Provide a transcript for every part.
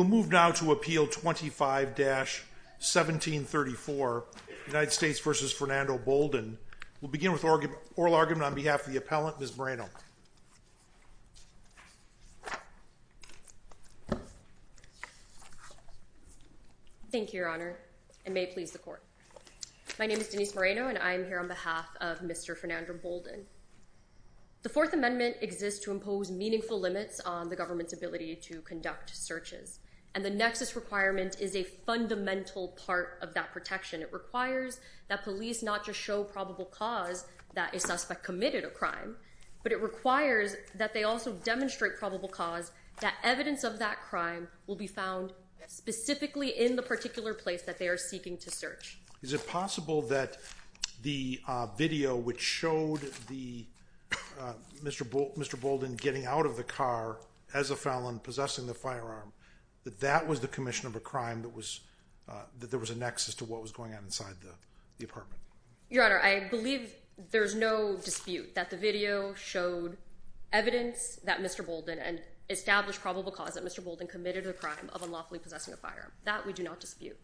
1734 United States v. Fernando Bolden. We'll begin with oral argument on behalf of the appellant, Ms. Moreno. Thank you, Your Honor, and may it please the court. My name is Denise Moreno, and I am here on behalf of Mr. Fernando Bolden. The Fourth Amendment exists to impose meaningful limits on the government's ability to conduct searches, and the nexus requirement is a fundamental part of that protection. It requires that police not just show probable cause that a suspect committed a crime, but it requires that they also demonstrate probable cause that evidence of that crime will be found specifically in the particular place that they are seeking to search. Is it possible that the video which showed the Mr. Bolden getting out of the car as a felon, possessing the firearm, that that was the commission of a crime that was, that there was a nexus to what was going on inside the apartment? Your Honor, I believe there's no dispute that the video showed evidence that Mr. Bolden, and established probable cause that Mr. Bolden committed a crime of unlawfully possessing a firearm. That we do not dispute.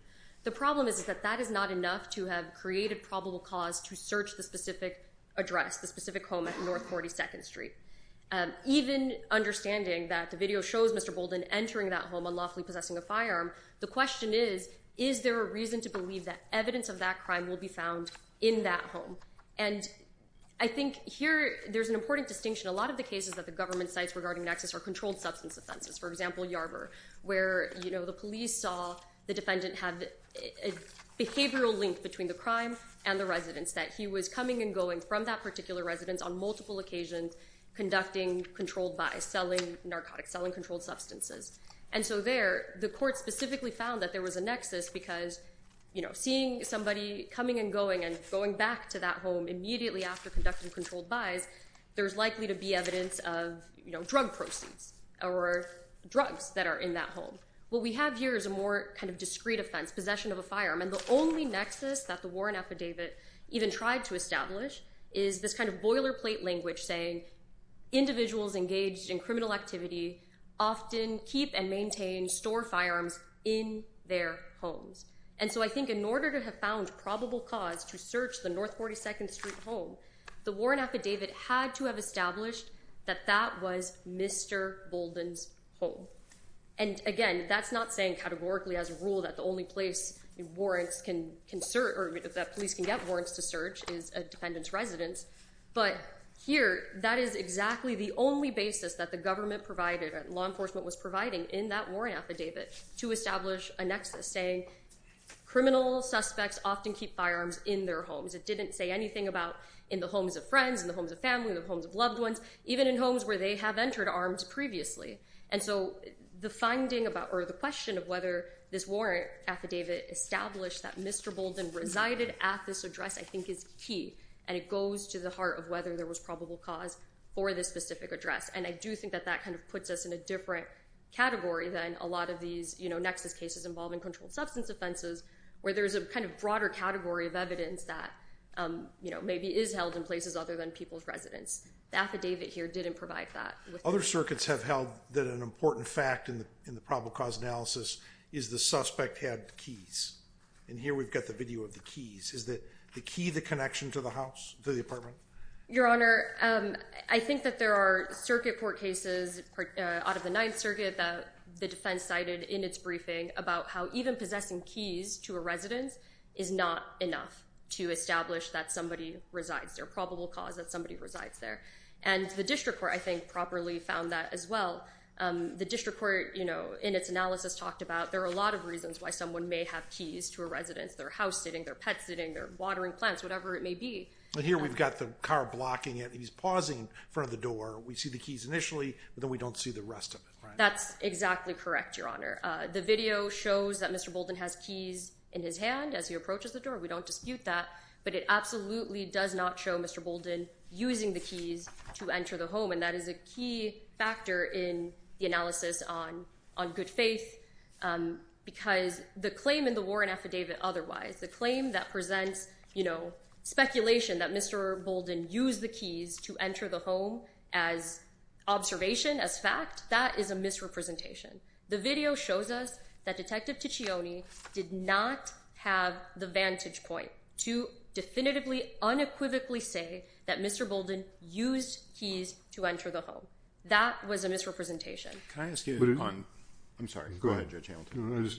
The problem is that that is not enough to have created probable cause to search the specific address, the specific home at North 42nd Street. Even understanding that the video shows Mr. Bolden entering that home unlawfully possessing a firearm, the question is, is there a reason to believe that evidence of that crime will be found in that home? And I think here there's an important distinction. A lot of the cases that the government cites regarding nexus are controlled substance offenses. For example, Yarborough, where you know, the police saw the defendant have a behavioral link between the crime and the residents, that he was coming and going from that particular residence on multiple occasions, conducting controlled buys, selling narcotics, selling controlled substances. And so there, the court specifically found that there was a nexus because, you know, seeing somebody coming and going and going back to that home immediately after conducting controlled buys, there's likely to be evidence of, you know, drug proceeds or drugs that are in that home. What we have here is a more kind of discrete offense, possession of a firearm, and the only nexus that the Warren affidavit even tried to establish is this kind of boilerplate language saying individuals engaged in criminal activity often keep and maintain store firearms in their homes. And so I think in order to have found probable cause to search the North 42nd Street home, the Warren affidavit had to have established that that was Mr. Bolden's home. And again, that's not saying categorically as a rule that the only place that police can get warrants to search is a dependent's residence. But here, that is exactly the only basis that the government provided, that law enforcement was providing in that Warren affidavit, to establish a nexus saying criminal suspects often keep firearms in their homes. It didn't say anything about in the homes of friends, in the homes of family, in the homes of loved ones, even in homes where they have entered arms previously. And so the finding about or the question of whether this Warren affidavit established that Mr. Bolden resided at this address I think is key, and it goes to the heart of whether there was probable cause for this specific address. And I do think that that kind of puts us in a different category than a lot of these, you know, nexus cases involving controlled substance offenses, where there's a kind of broader category of evidence that maybe is held in places other than people's residence. The affidavit here didn't provide that. Other circuits have held that an important fact in the in the probable cause analysis is the suspect had keys. And here we've got the video of the keys. Is the key the connection to the house, to the apartment? Your Honor, I think that there are circuit court cases out of the Ninth Circuit that the defense cited in its briefing about how even possessing keys to a residence is not enough to establish that somebody resides there, probable cause that somebody resides there. And the district court I think properly found that as well. The district court, you know, in its analysis talked about there are a lot of reasons why someone may have keys to a residence, their house sitting, their pet sitting, their watering plants, whatever it may be. But here we've got the car blocking it. He's pausing in front of the door. We see the keys initially, but then we don't see the rest of it. That's exactly correct, Your Honor. The video shows that Mr. Bolden has keys in his hand as he approaches the door. We don't dispute that, but it absolutely does not show Mr. Bolden using the keys to enter the home. And that is a key factor in the analysis on good faith because the claim in the Warren affidavit otherwise, the claim that presents, you know, speculation that Mr. Bolden used the keys to enter the home as observation, as fact, that is a misrepresentation. The video shows us that Detective Ticcioni did not have the vantage point to definitively, unequivocally say that Mr. Bolden used keys to enter the home. That was a misrepresentation. Can I ask you on... I'm sorry. Go ahead, Judge Hamilton.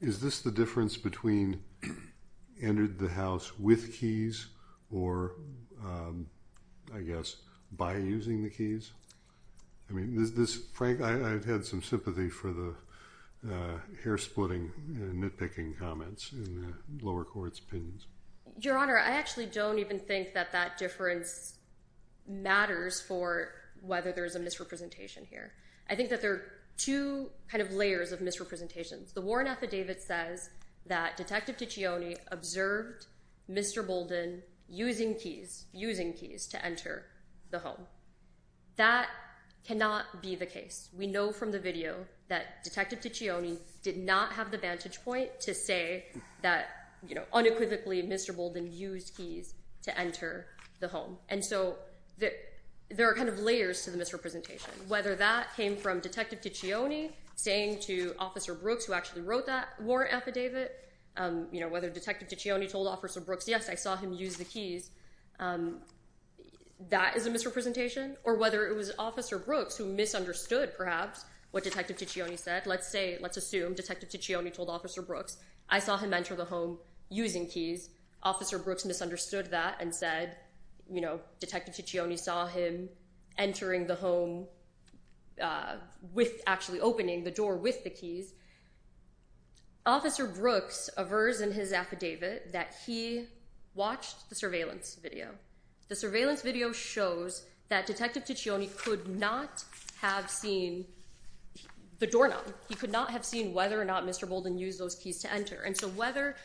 Is this the difference between entered the house with keys or I guess by using the keys? I mean, is this... Frank, I've had some sympathy for the hair-splitting and nitpicking comments in the lower court's opinions. Your Honor, I actually don't even think that that difference matters for whether there's a misrepresentation here. I think that there are two kind of layers of misrepresentations. The Warren affidavit says that Detective Ticcioni observed Mr. Bolden using keys, using keys to enter the home. That cannot be the case. We know from the video that Detective Ticcioni did not have the vantage point to say that, you know, unequivocally Mr. Bolden used keys to enter the home. And so that there are kind of layers to the misrepresentation. Whether that came from Detective Ticcioni saying to Officer Brooks who actually wrote that Warren affidavit, you know, whether Detective Ticcioni told Officer Brooks, yes, I saw him use the keys, that is a misrepresentation. Or whether it was Officer Brooks who misunderstood perhaps what Detective Ticcioni said. Let's say, let's assume Detective Ticcioni told Officer Brooks, I saw him enter the home using keys. Officer Brooks misunderstood that and said, you know, Detective Ticcioni saw him entering the home with actually opening the door with the keys. Officer Brooks aversed in his affidavit that he watched the surveillance video. The surveillance video shows that Detective Ticcioni could not have seen the doorknob. He could not have seen whether or not Mr. Bolden used those keys to enter. And so whether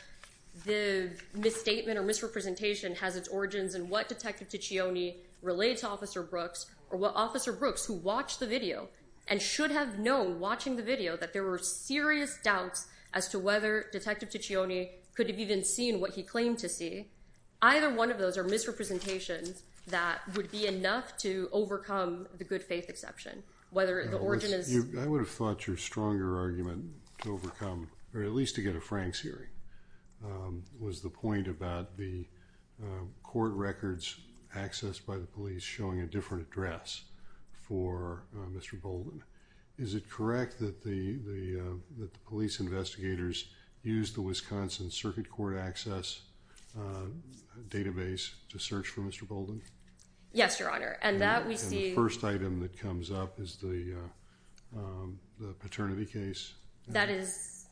the misstatement or misrepresentation has its origins in what Detective Ticcioni relates to Officer Brooks or what Officer Brooks who watched the video and should have known watching the video that there were serious doubts as to whether Detective Ticcioni could have even seen what he claimed to see, either one of those are misrepresentations that would be enough to overcome the good faith exception. I would have thought your stronger argument to overcome, or at least to get a Franks hearing, was the point about the court records accessed by the police showing a different address for Mr. Bolden. Is it correct that the police investigators used the Wisconsin Circuit Court access database to search for Mr. Bolden? Yes, Your Honor. And that we see... And the first item that comes up is the paternity case? That is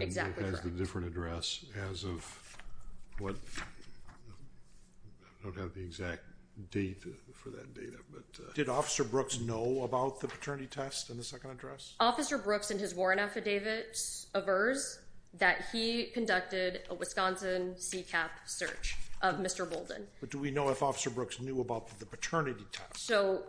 exactly correct. And it has a different address as of what... I don't have the exact date for that data, but... Did Officer Brooks know about the paternity test in the second address? Officer Brooks in his warrant affidavit averse that he conducted a Wisconsin CCAP search of Mr. Bolden. But do we know if Officer Brooks knew about the paternity test? So,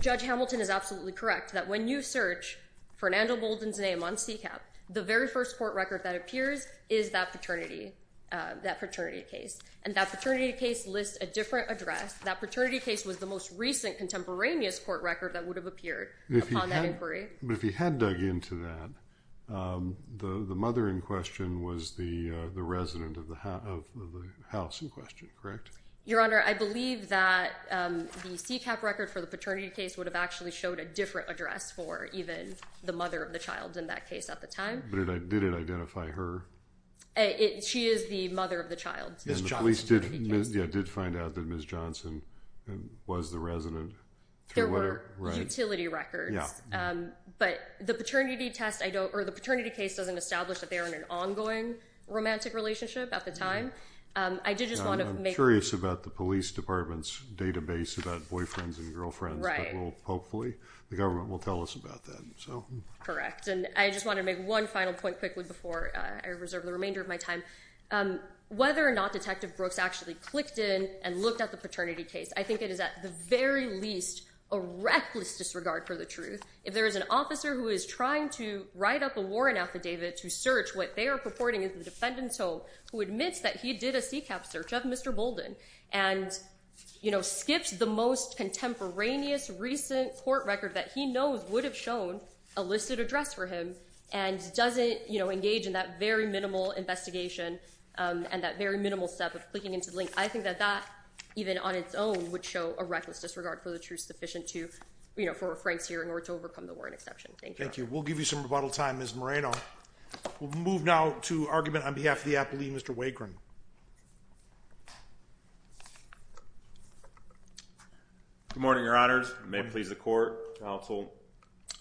Judge Hamilton is absolutely correct that when you search for Nandle Bolden's name on CCAP, the very first court record that appears is that paternity case. And that paternity case lists a different address. That paternity case was the most recent contemporaneous court record that would have appeared upon that inquiry. But if he had dug into that, the mother in question was the resident of the house in question, correct? Your Honor, I believe that the CCAP record for the paternity case would have actually showed a different address for even the mother of the child in that case at the time. But did it identify her? She is the mother of the child. And the police did find out that Ms. Johnson was the resident? There were utility records. But the paternity test, or the paternity case, doesn't establish that they were in an ongoing romantic relationship at the time. I'm curious about the police department's database about boyfriends and girlfriends. Hopefully the government will tell us about that. And I just want to make one final point quickly before I reserve the remainder of my time. Whether or not Detective Brooks actually clicked in and looked at the paternity case, I think it is at the very least a reckless disregard for the truth. If there is an officer who is trying to write up a warrant affidavit to search, what they are purporting is the defendant's home, who admits that he did a CCAP search of Mr. Bolden, and skips the most contemporaneous recent court record that he knows would have shown a listed address for him, and doesn't engage in that very minimal investigation and that very minimal step of clicking into the link. I think that that, even on its own, would show a reckless disregard for the truth sufficient for a Frank's hearing or to overcome the warrant exception. Thank you. Thank you. We'll give you some rebuttal time, Ms. Moreno. We'll move now to argument on behalf of the appellee, Mr. Wagram. Good morning, your honors. May it please the court, counsel.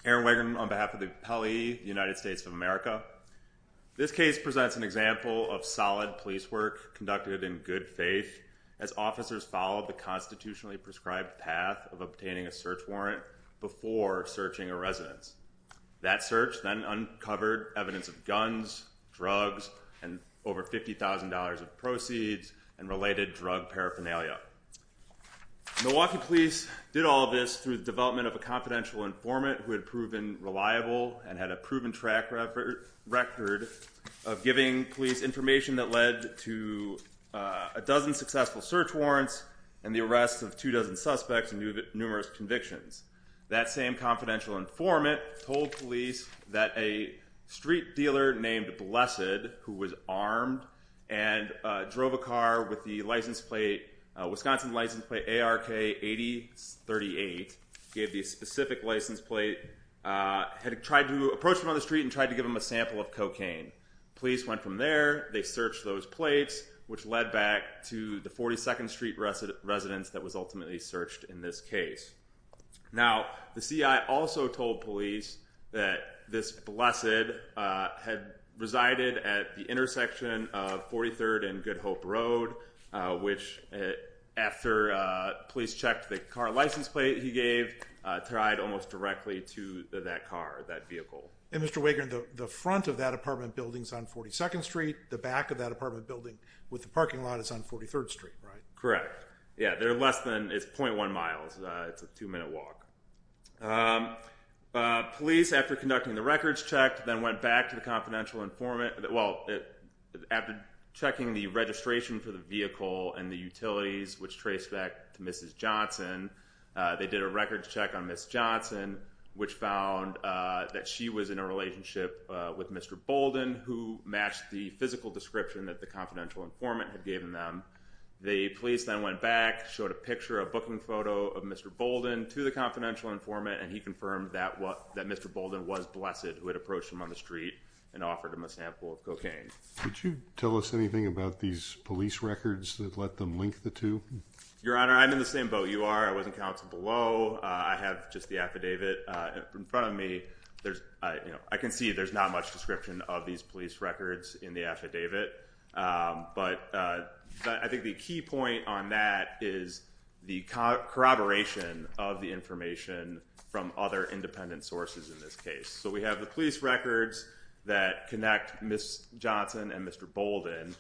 Aaron Wagram on behalf of the appellee, United States of America. This case presents an example of solid police work conducted in good faith as officers followed the constitutionally prescribed path of obtaining a search warrant before searching a residence. That search then uncovered evidence of guns, drugs, and over $50,000 of proceeds and related drug paraphernalia. Milwaukee police did all of this through the development of a confidential informant who had proven reliable and had a proven track record of giving police information that led to a dozen successful search warrants and the arrest of two dozen suspects and numerous convictions. That same confidential informant told police that a street dealer named Blessed, who was armed, and drove a car with the Wisconsin license plate ARK 8038, gave the specific license plate, had approached him on the street and tried to give him a sample of cocaine. Police went from there. They searched those plates, which led back to the 42nd Street residence that was ultimately searched in this case. Now, the CI also told police that this Blessed had resided at the intersection of 43rd and Good Hope Road, which, after police checked the car license plate he gave, tied almost directly to that car, that vehicle. And Mr. Wagram, the front of that apartment building is on 42nd Street. The back of that apartment building with the parking lot is on 43rd Street, right? Correct. Yeah, they're less than, it's 0.1 miles. It's a two-minute walk. Police, after conducting the records check, then went back to the confidential informant, well, after checking the registration for the vehicle and the utilities, which traced back to Mrs. Johnson, they did a records check on Miss Johnson, which found that she was in a relationship with Mr. Bolden, who matched the physical description that the confidential informant had given them. The police then went back, showed a picture, a booking photo of Mr. Bolden to the confidential informant, and he confirmed that Mr. Bolden was Blessed, who had approached him on the street and offered him a sample of cocaine. Could you tell us anything about these police records that let them link the two? Your Honor, I'm in the same boat you are. I was in counsel below. I have just the affidavit in front of me. I can see there's not much description of these police records in the affidavit. But I think the key point on that is the corroboration of the information from other independent sources in this case. So we have the police records that connect Miss Johnson and Mr. Bolden.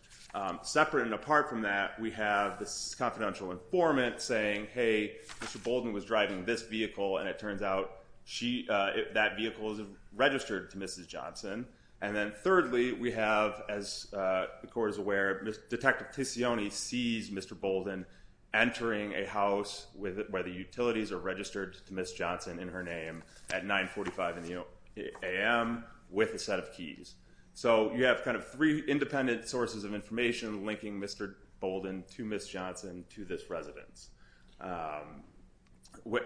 Separate and apart from that, we have this confidential informant saying, hey, Mr. Bolden was driving this vehicle, and it turns out that vehicle is registered to Mrs. Johnson. And then thirdly, we have, as the Court is aware, Detective Tisione sees Mr. Bolden entering a house where the utilities are registered to Miss Johnson in her name at 9.45 a.m. with a set of keys. So you have kind of three independent sources of information linking Mr. Bolden to Miss Johnson to this residence.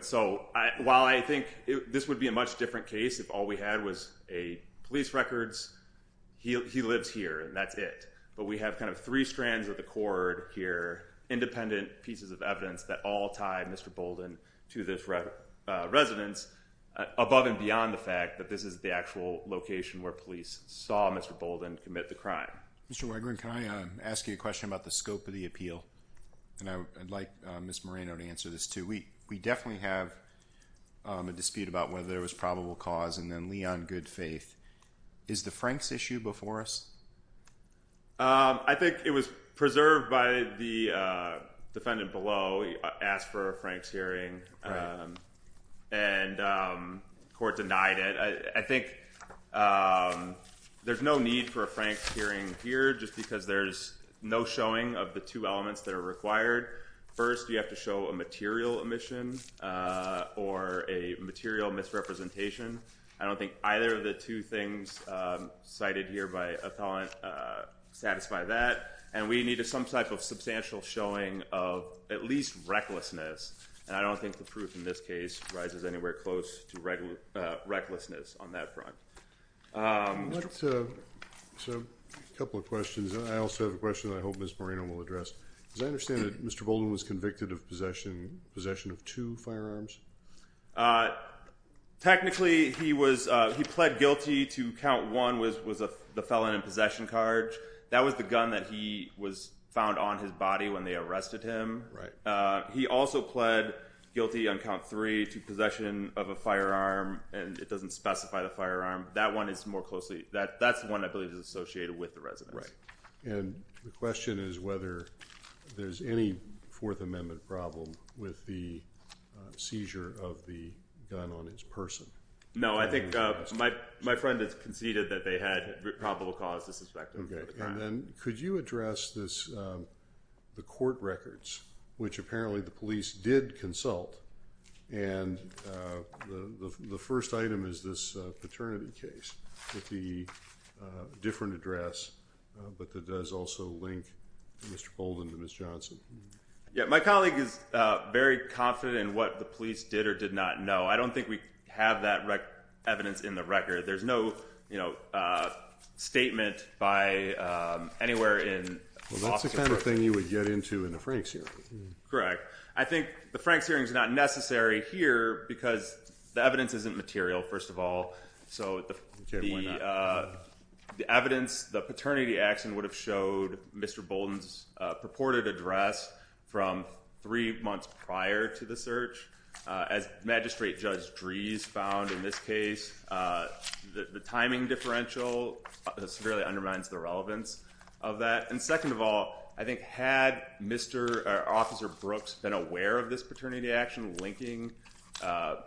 So while I think this would be a much different case if all we had was police records, he lives here, and that's it. But we have kind of three strands of the cord here, independent pieces of evidence that all tie Mr. Bolden to this residence, above and beyond the fact that this is the actual location where police saw Mr. Bolden commit the crime. Mr. Weigrin, can I ask you a question about the scope of the appeal? And I'd like Ms. Moreno to answer this, too. We definitely have a dispute about whether there was probable cause and then Lee on good faith. Is the Franks issue before us? I think it was preserved by the defendant below. He asked for a Franks hearing, and the Court denied it. I think there's no need for a Franks hearing here just because there's no showing of the two elements that are required. First, you have to show a material omission or a material misrepresentation. I don't think either of the two things cited here by Athalant satisfy that. And we need some type of substantial showing of at least recklessness. And I don't think the proof in this case rises anywhere close to recklessness on that front. So a couple of questions, and I also have a question I hope Ms. Moreno will address. As I understand it, Mr. Bolden was convicted of possession of two firearms? Technically, he pled guilty to count one was the felon in possession charge. That was the gun that he was found on his body when they arrested him. He also pled guilty on count three to possession of a firearm, and it doesn't specify the firearm. That one is more closely—that's the one I believe is associated with the residence. And the question is whether there's any Fourth Amendment problem with the seizure of the gun on his person. No, I think my friend has conceded that they had probable cause to suspect him of that. And then could you address the court records, which apparently the police did consult? And the first item is this paternity case with the different address, but that does also link Mr. Bolden to Ms. Johnson. Yeah, my colleague is very confident in what the police did or did not know. I don't think we have that evidence in the record. There's no statement by anywhere in— Well, that's the kind of thing you would get into in a Franks hearing. Correct. I think the Franks hearing is not necessary here because the evidence isn't material, first of all. So the evidence, the paternity action would have showed Mr. Bolden's purported address from three months prior to the search. As Magistrate Judge Drees found in this case, the timing differential severely undermines the relevance of that. And second of all, I think had Mr. or Officer Brooks been aware of this paternity action linking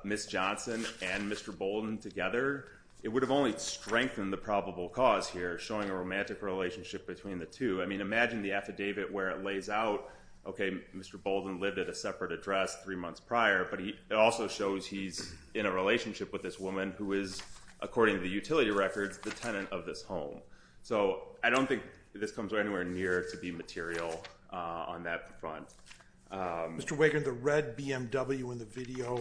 Ms. Johnson and Mr. Bolden together, it would have only strengthened the probable cause here, showing a romantic relationship between the two. I mean, imagine the affidavit where it lays out, okay, Mr. Bolden lived at a separate address three months prior, but it also shows he's in a relationship with this woman who is, according to the utility records, the tenant of this home. So I don't think this comes anywhere near to be material on that front. Mr. Wigand, the red BMW in the video,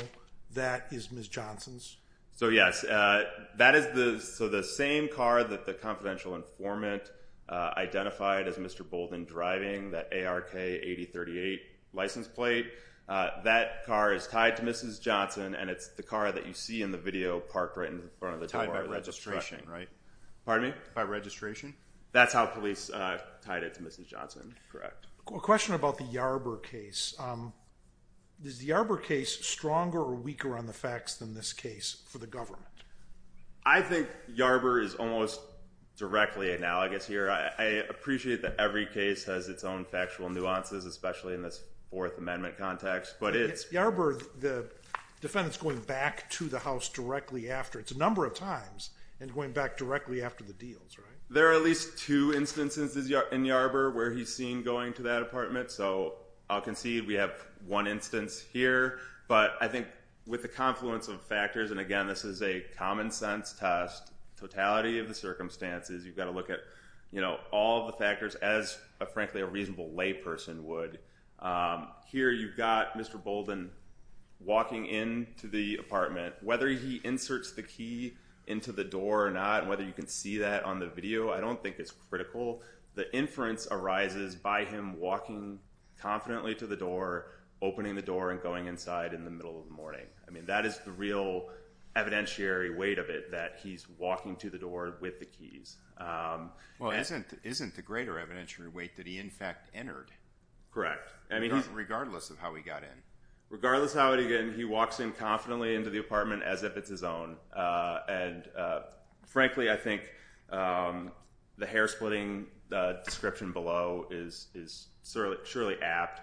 that is Ms. Johnson's? So yes, that is the same car that the confidential informant identified as Mr. Bolden driving, that ARK 8038 license plate. That car is tied to Mrs. Johnson, and it's the car that you see in the video parked right in front of the door of the truck. Tied by registration, right? Pardon me? By registration? That's how police tied it to Mrs. Johnson, correct. A question about the Yarber case. Is the Yarber case stronger or weaker on the facts than this case for the government? I think Yarber is almost directly analogous here. I appreciate that every case has its own factual nuances, especially in this Fourth Amendment context. But it's Yarber, the defendant's going back to the house directly after. It's a number of times, and going back directly after the deals, right? There are at least two instances in Yarber where he's seen going to that apartment. So I'll concede we have one instance here. But I think with the confluence of factors, and again, this is a common sense test, totality of the circumstances. You've got to look at all the factors as, frankly, a reasonable layperson would. Here you've got Mr. Bolden walking into the apartment. Whether he inserts the key into the door or not, whether you can see that on the video, I don't think it's critical. The inference arises by him walking confidently to the door, opening the door, and going inside in the middle of the morning. I mean, that is the real evidentiary weight of it, that he's walking to the door with the keys. Well, isn't the greater evidentiary weight that he, in fact, entered? Correct. Regardless of how he got in. Regardless of how he got in, he walks in confidently into the apartment as if it's his own. And frankly, I think the hair-splitting description below is surely apt.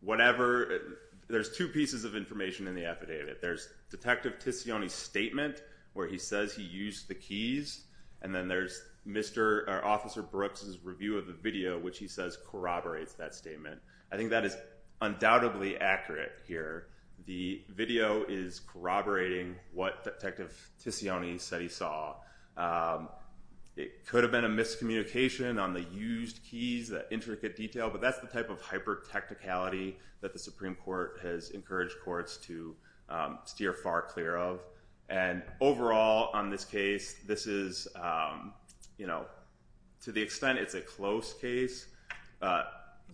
Whatever – there's two pieces of information in the affidavit. There's Detective Tizioni's statement where he says he used the keys. And then there's Officer Brooks's review of the video, which he says corroborates that statement. I think that is undoubtedly accurate here. The video is corroborating what Detective Tizioni said he saw. It could have been a miscommunication on the used keys, that intricate detail, but that's the type of hyper-tacticality that the Supreme Court has encouraged courts to steer far clear of. And overall, on this case, this is – to the extent it's a close case,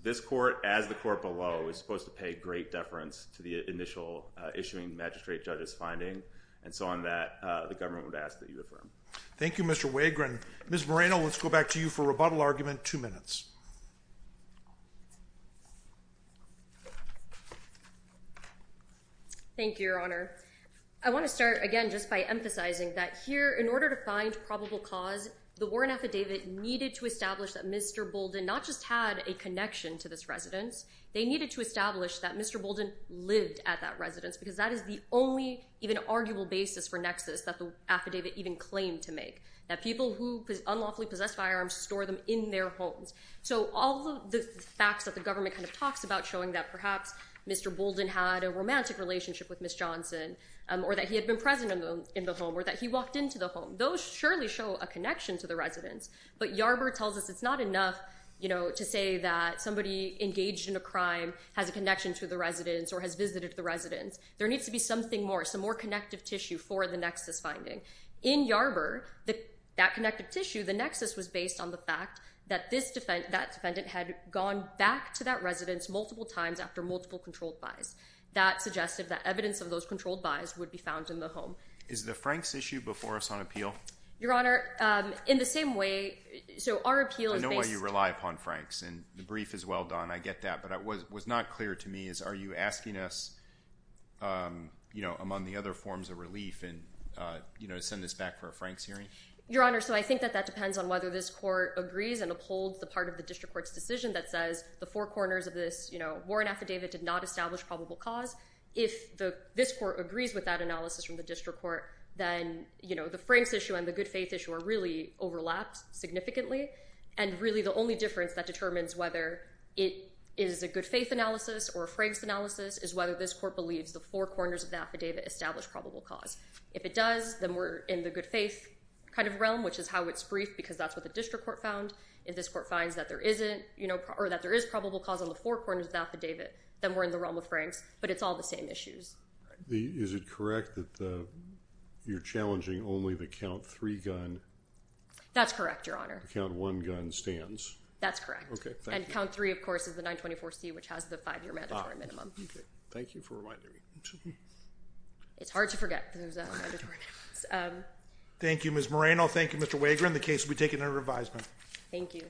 this court, as the court below, is supposed to pay great deference to the initial issuing magistrate judge's finding. And so on that, the government would ask that you affirm. Thank you, Mr. Wagram. Ms. Moreno, let's go back to you for rebuttal argument, two minutes. Thank you, Your Honor. I want to start, again, just by emphasizing that here, in order to find probable cause, the Warren affidavit needed to establish that Mr. Bolden not just had a connection to this residence, they needed to establish that Mr. Bolden lived at that residence, because that is the only even arguable basis for nexus that the affidavit even claimed to make, that people who unlawfully possess firearms store them in their homes. So all of the facts that the government kind of talks about, showing that perhaps Mr. Bolden had a romantic relationship with Ms. Johnson, or that he had been present in the home, or that he walked into the home, those surely show a connection to the residence. But Yarber tells us it's not enough to say that somebody engaged in a crime has a connection to the residence or has visited the residence. There needs to be something more, some more connective tissue for the nexus finding. In Yarber, that connective tissue, the nexus was based on the fact that that defendant had gone back to that residence multiple times after multiple controlled buys. That suggested that evidence of those controlled buys would be found in the home. Is the Franks issue before us on appeal? Your Honor, in the same way, so our appeal is based... I know why you rely upon Franks, and the brief is well done. I get that. But what was not clear to me is are you asking us, you know, among the other forms of relief, and, you know, send this back for a Franks hearing? Your Honor, so I think that that depends on whether this court agrees and upholds the part of the district court's decision that says the four corners of this, you know, Warren affidavit did not establish probable cause. If this court agrees with that analysis from the district court, then, you know, the Franks issue and the good faith issue are really overlapped significantly, and really the only difference that determines whether it is a good faith analysis or a Franks analysis is whether this court believes the four corners of the affidavit establish probable cause. If it does, then we're in the good faith kind of realm, which is how it's briefed, because that's what the district court found. If this court finds that there isn't, you know, or that there is probable cause on the four corners of the affidavit, then we're in the realm of Franks, but it's all the same issues. Is it correct that you're challenging only the count three gun? That's correct, Your Honor. The count one gun stands. That's correct. Okay, thank you. And count three, of course, is the 924C, which has the five-year mandatory minimum. Thank you for reminding me. It's hard to forget those mandatory minimums. Thank you, Ms. Moreno. Thank you, Mr. Wager. And the case will be taken under revisement. Thank you. Thank you.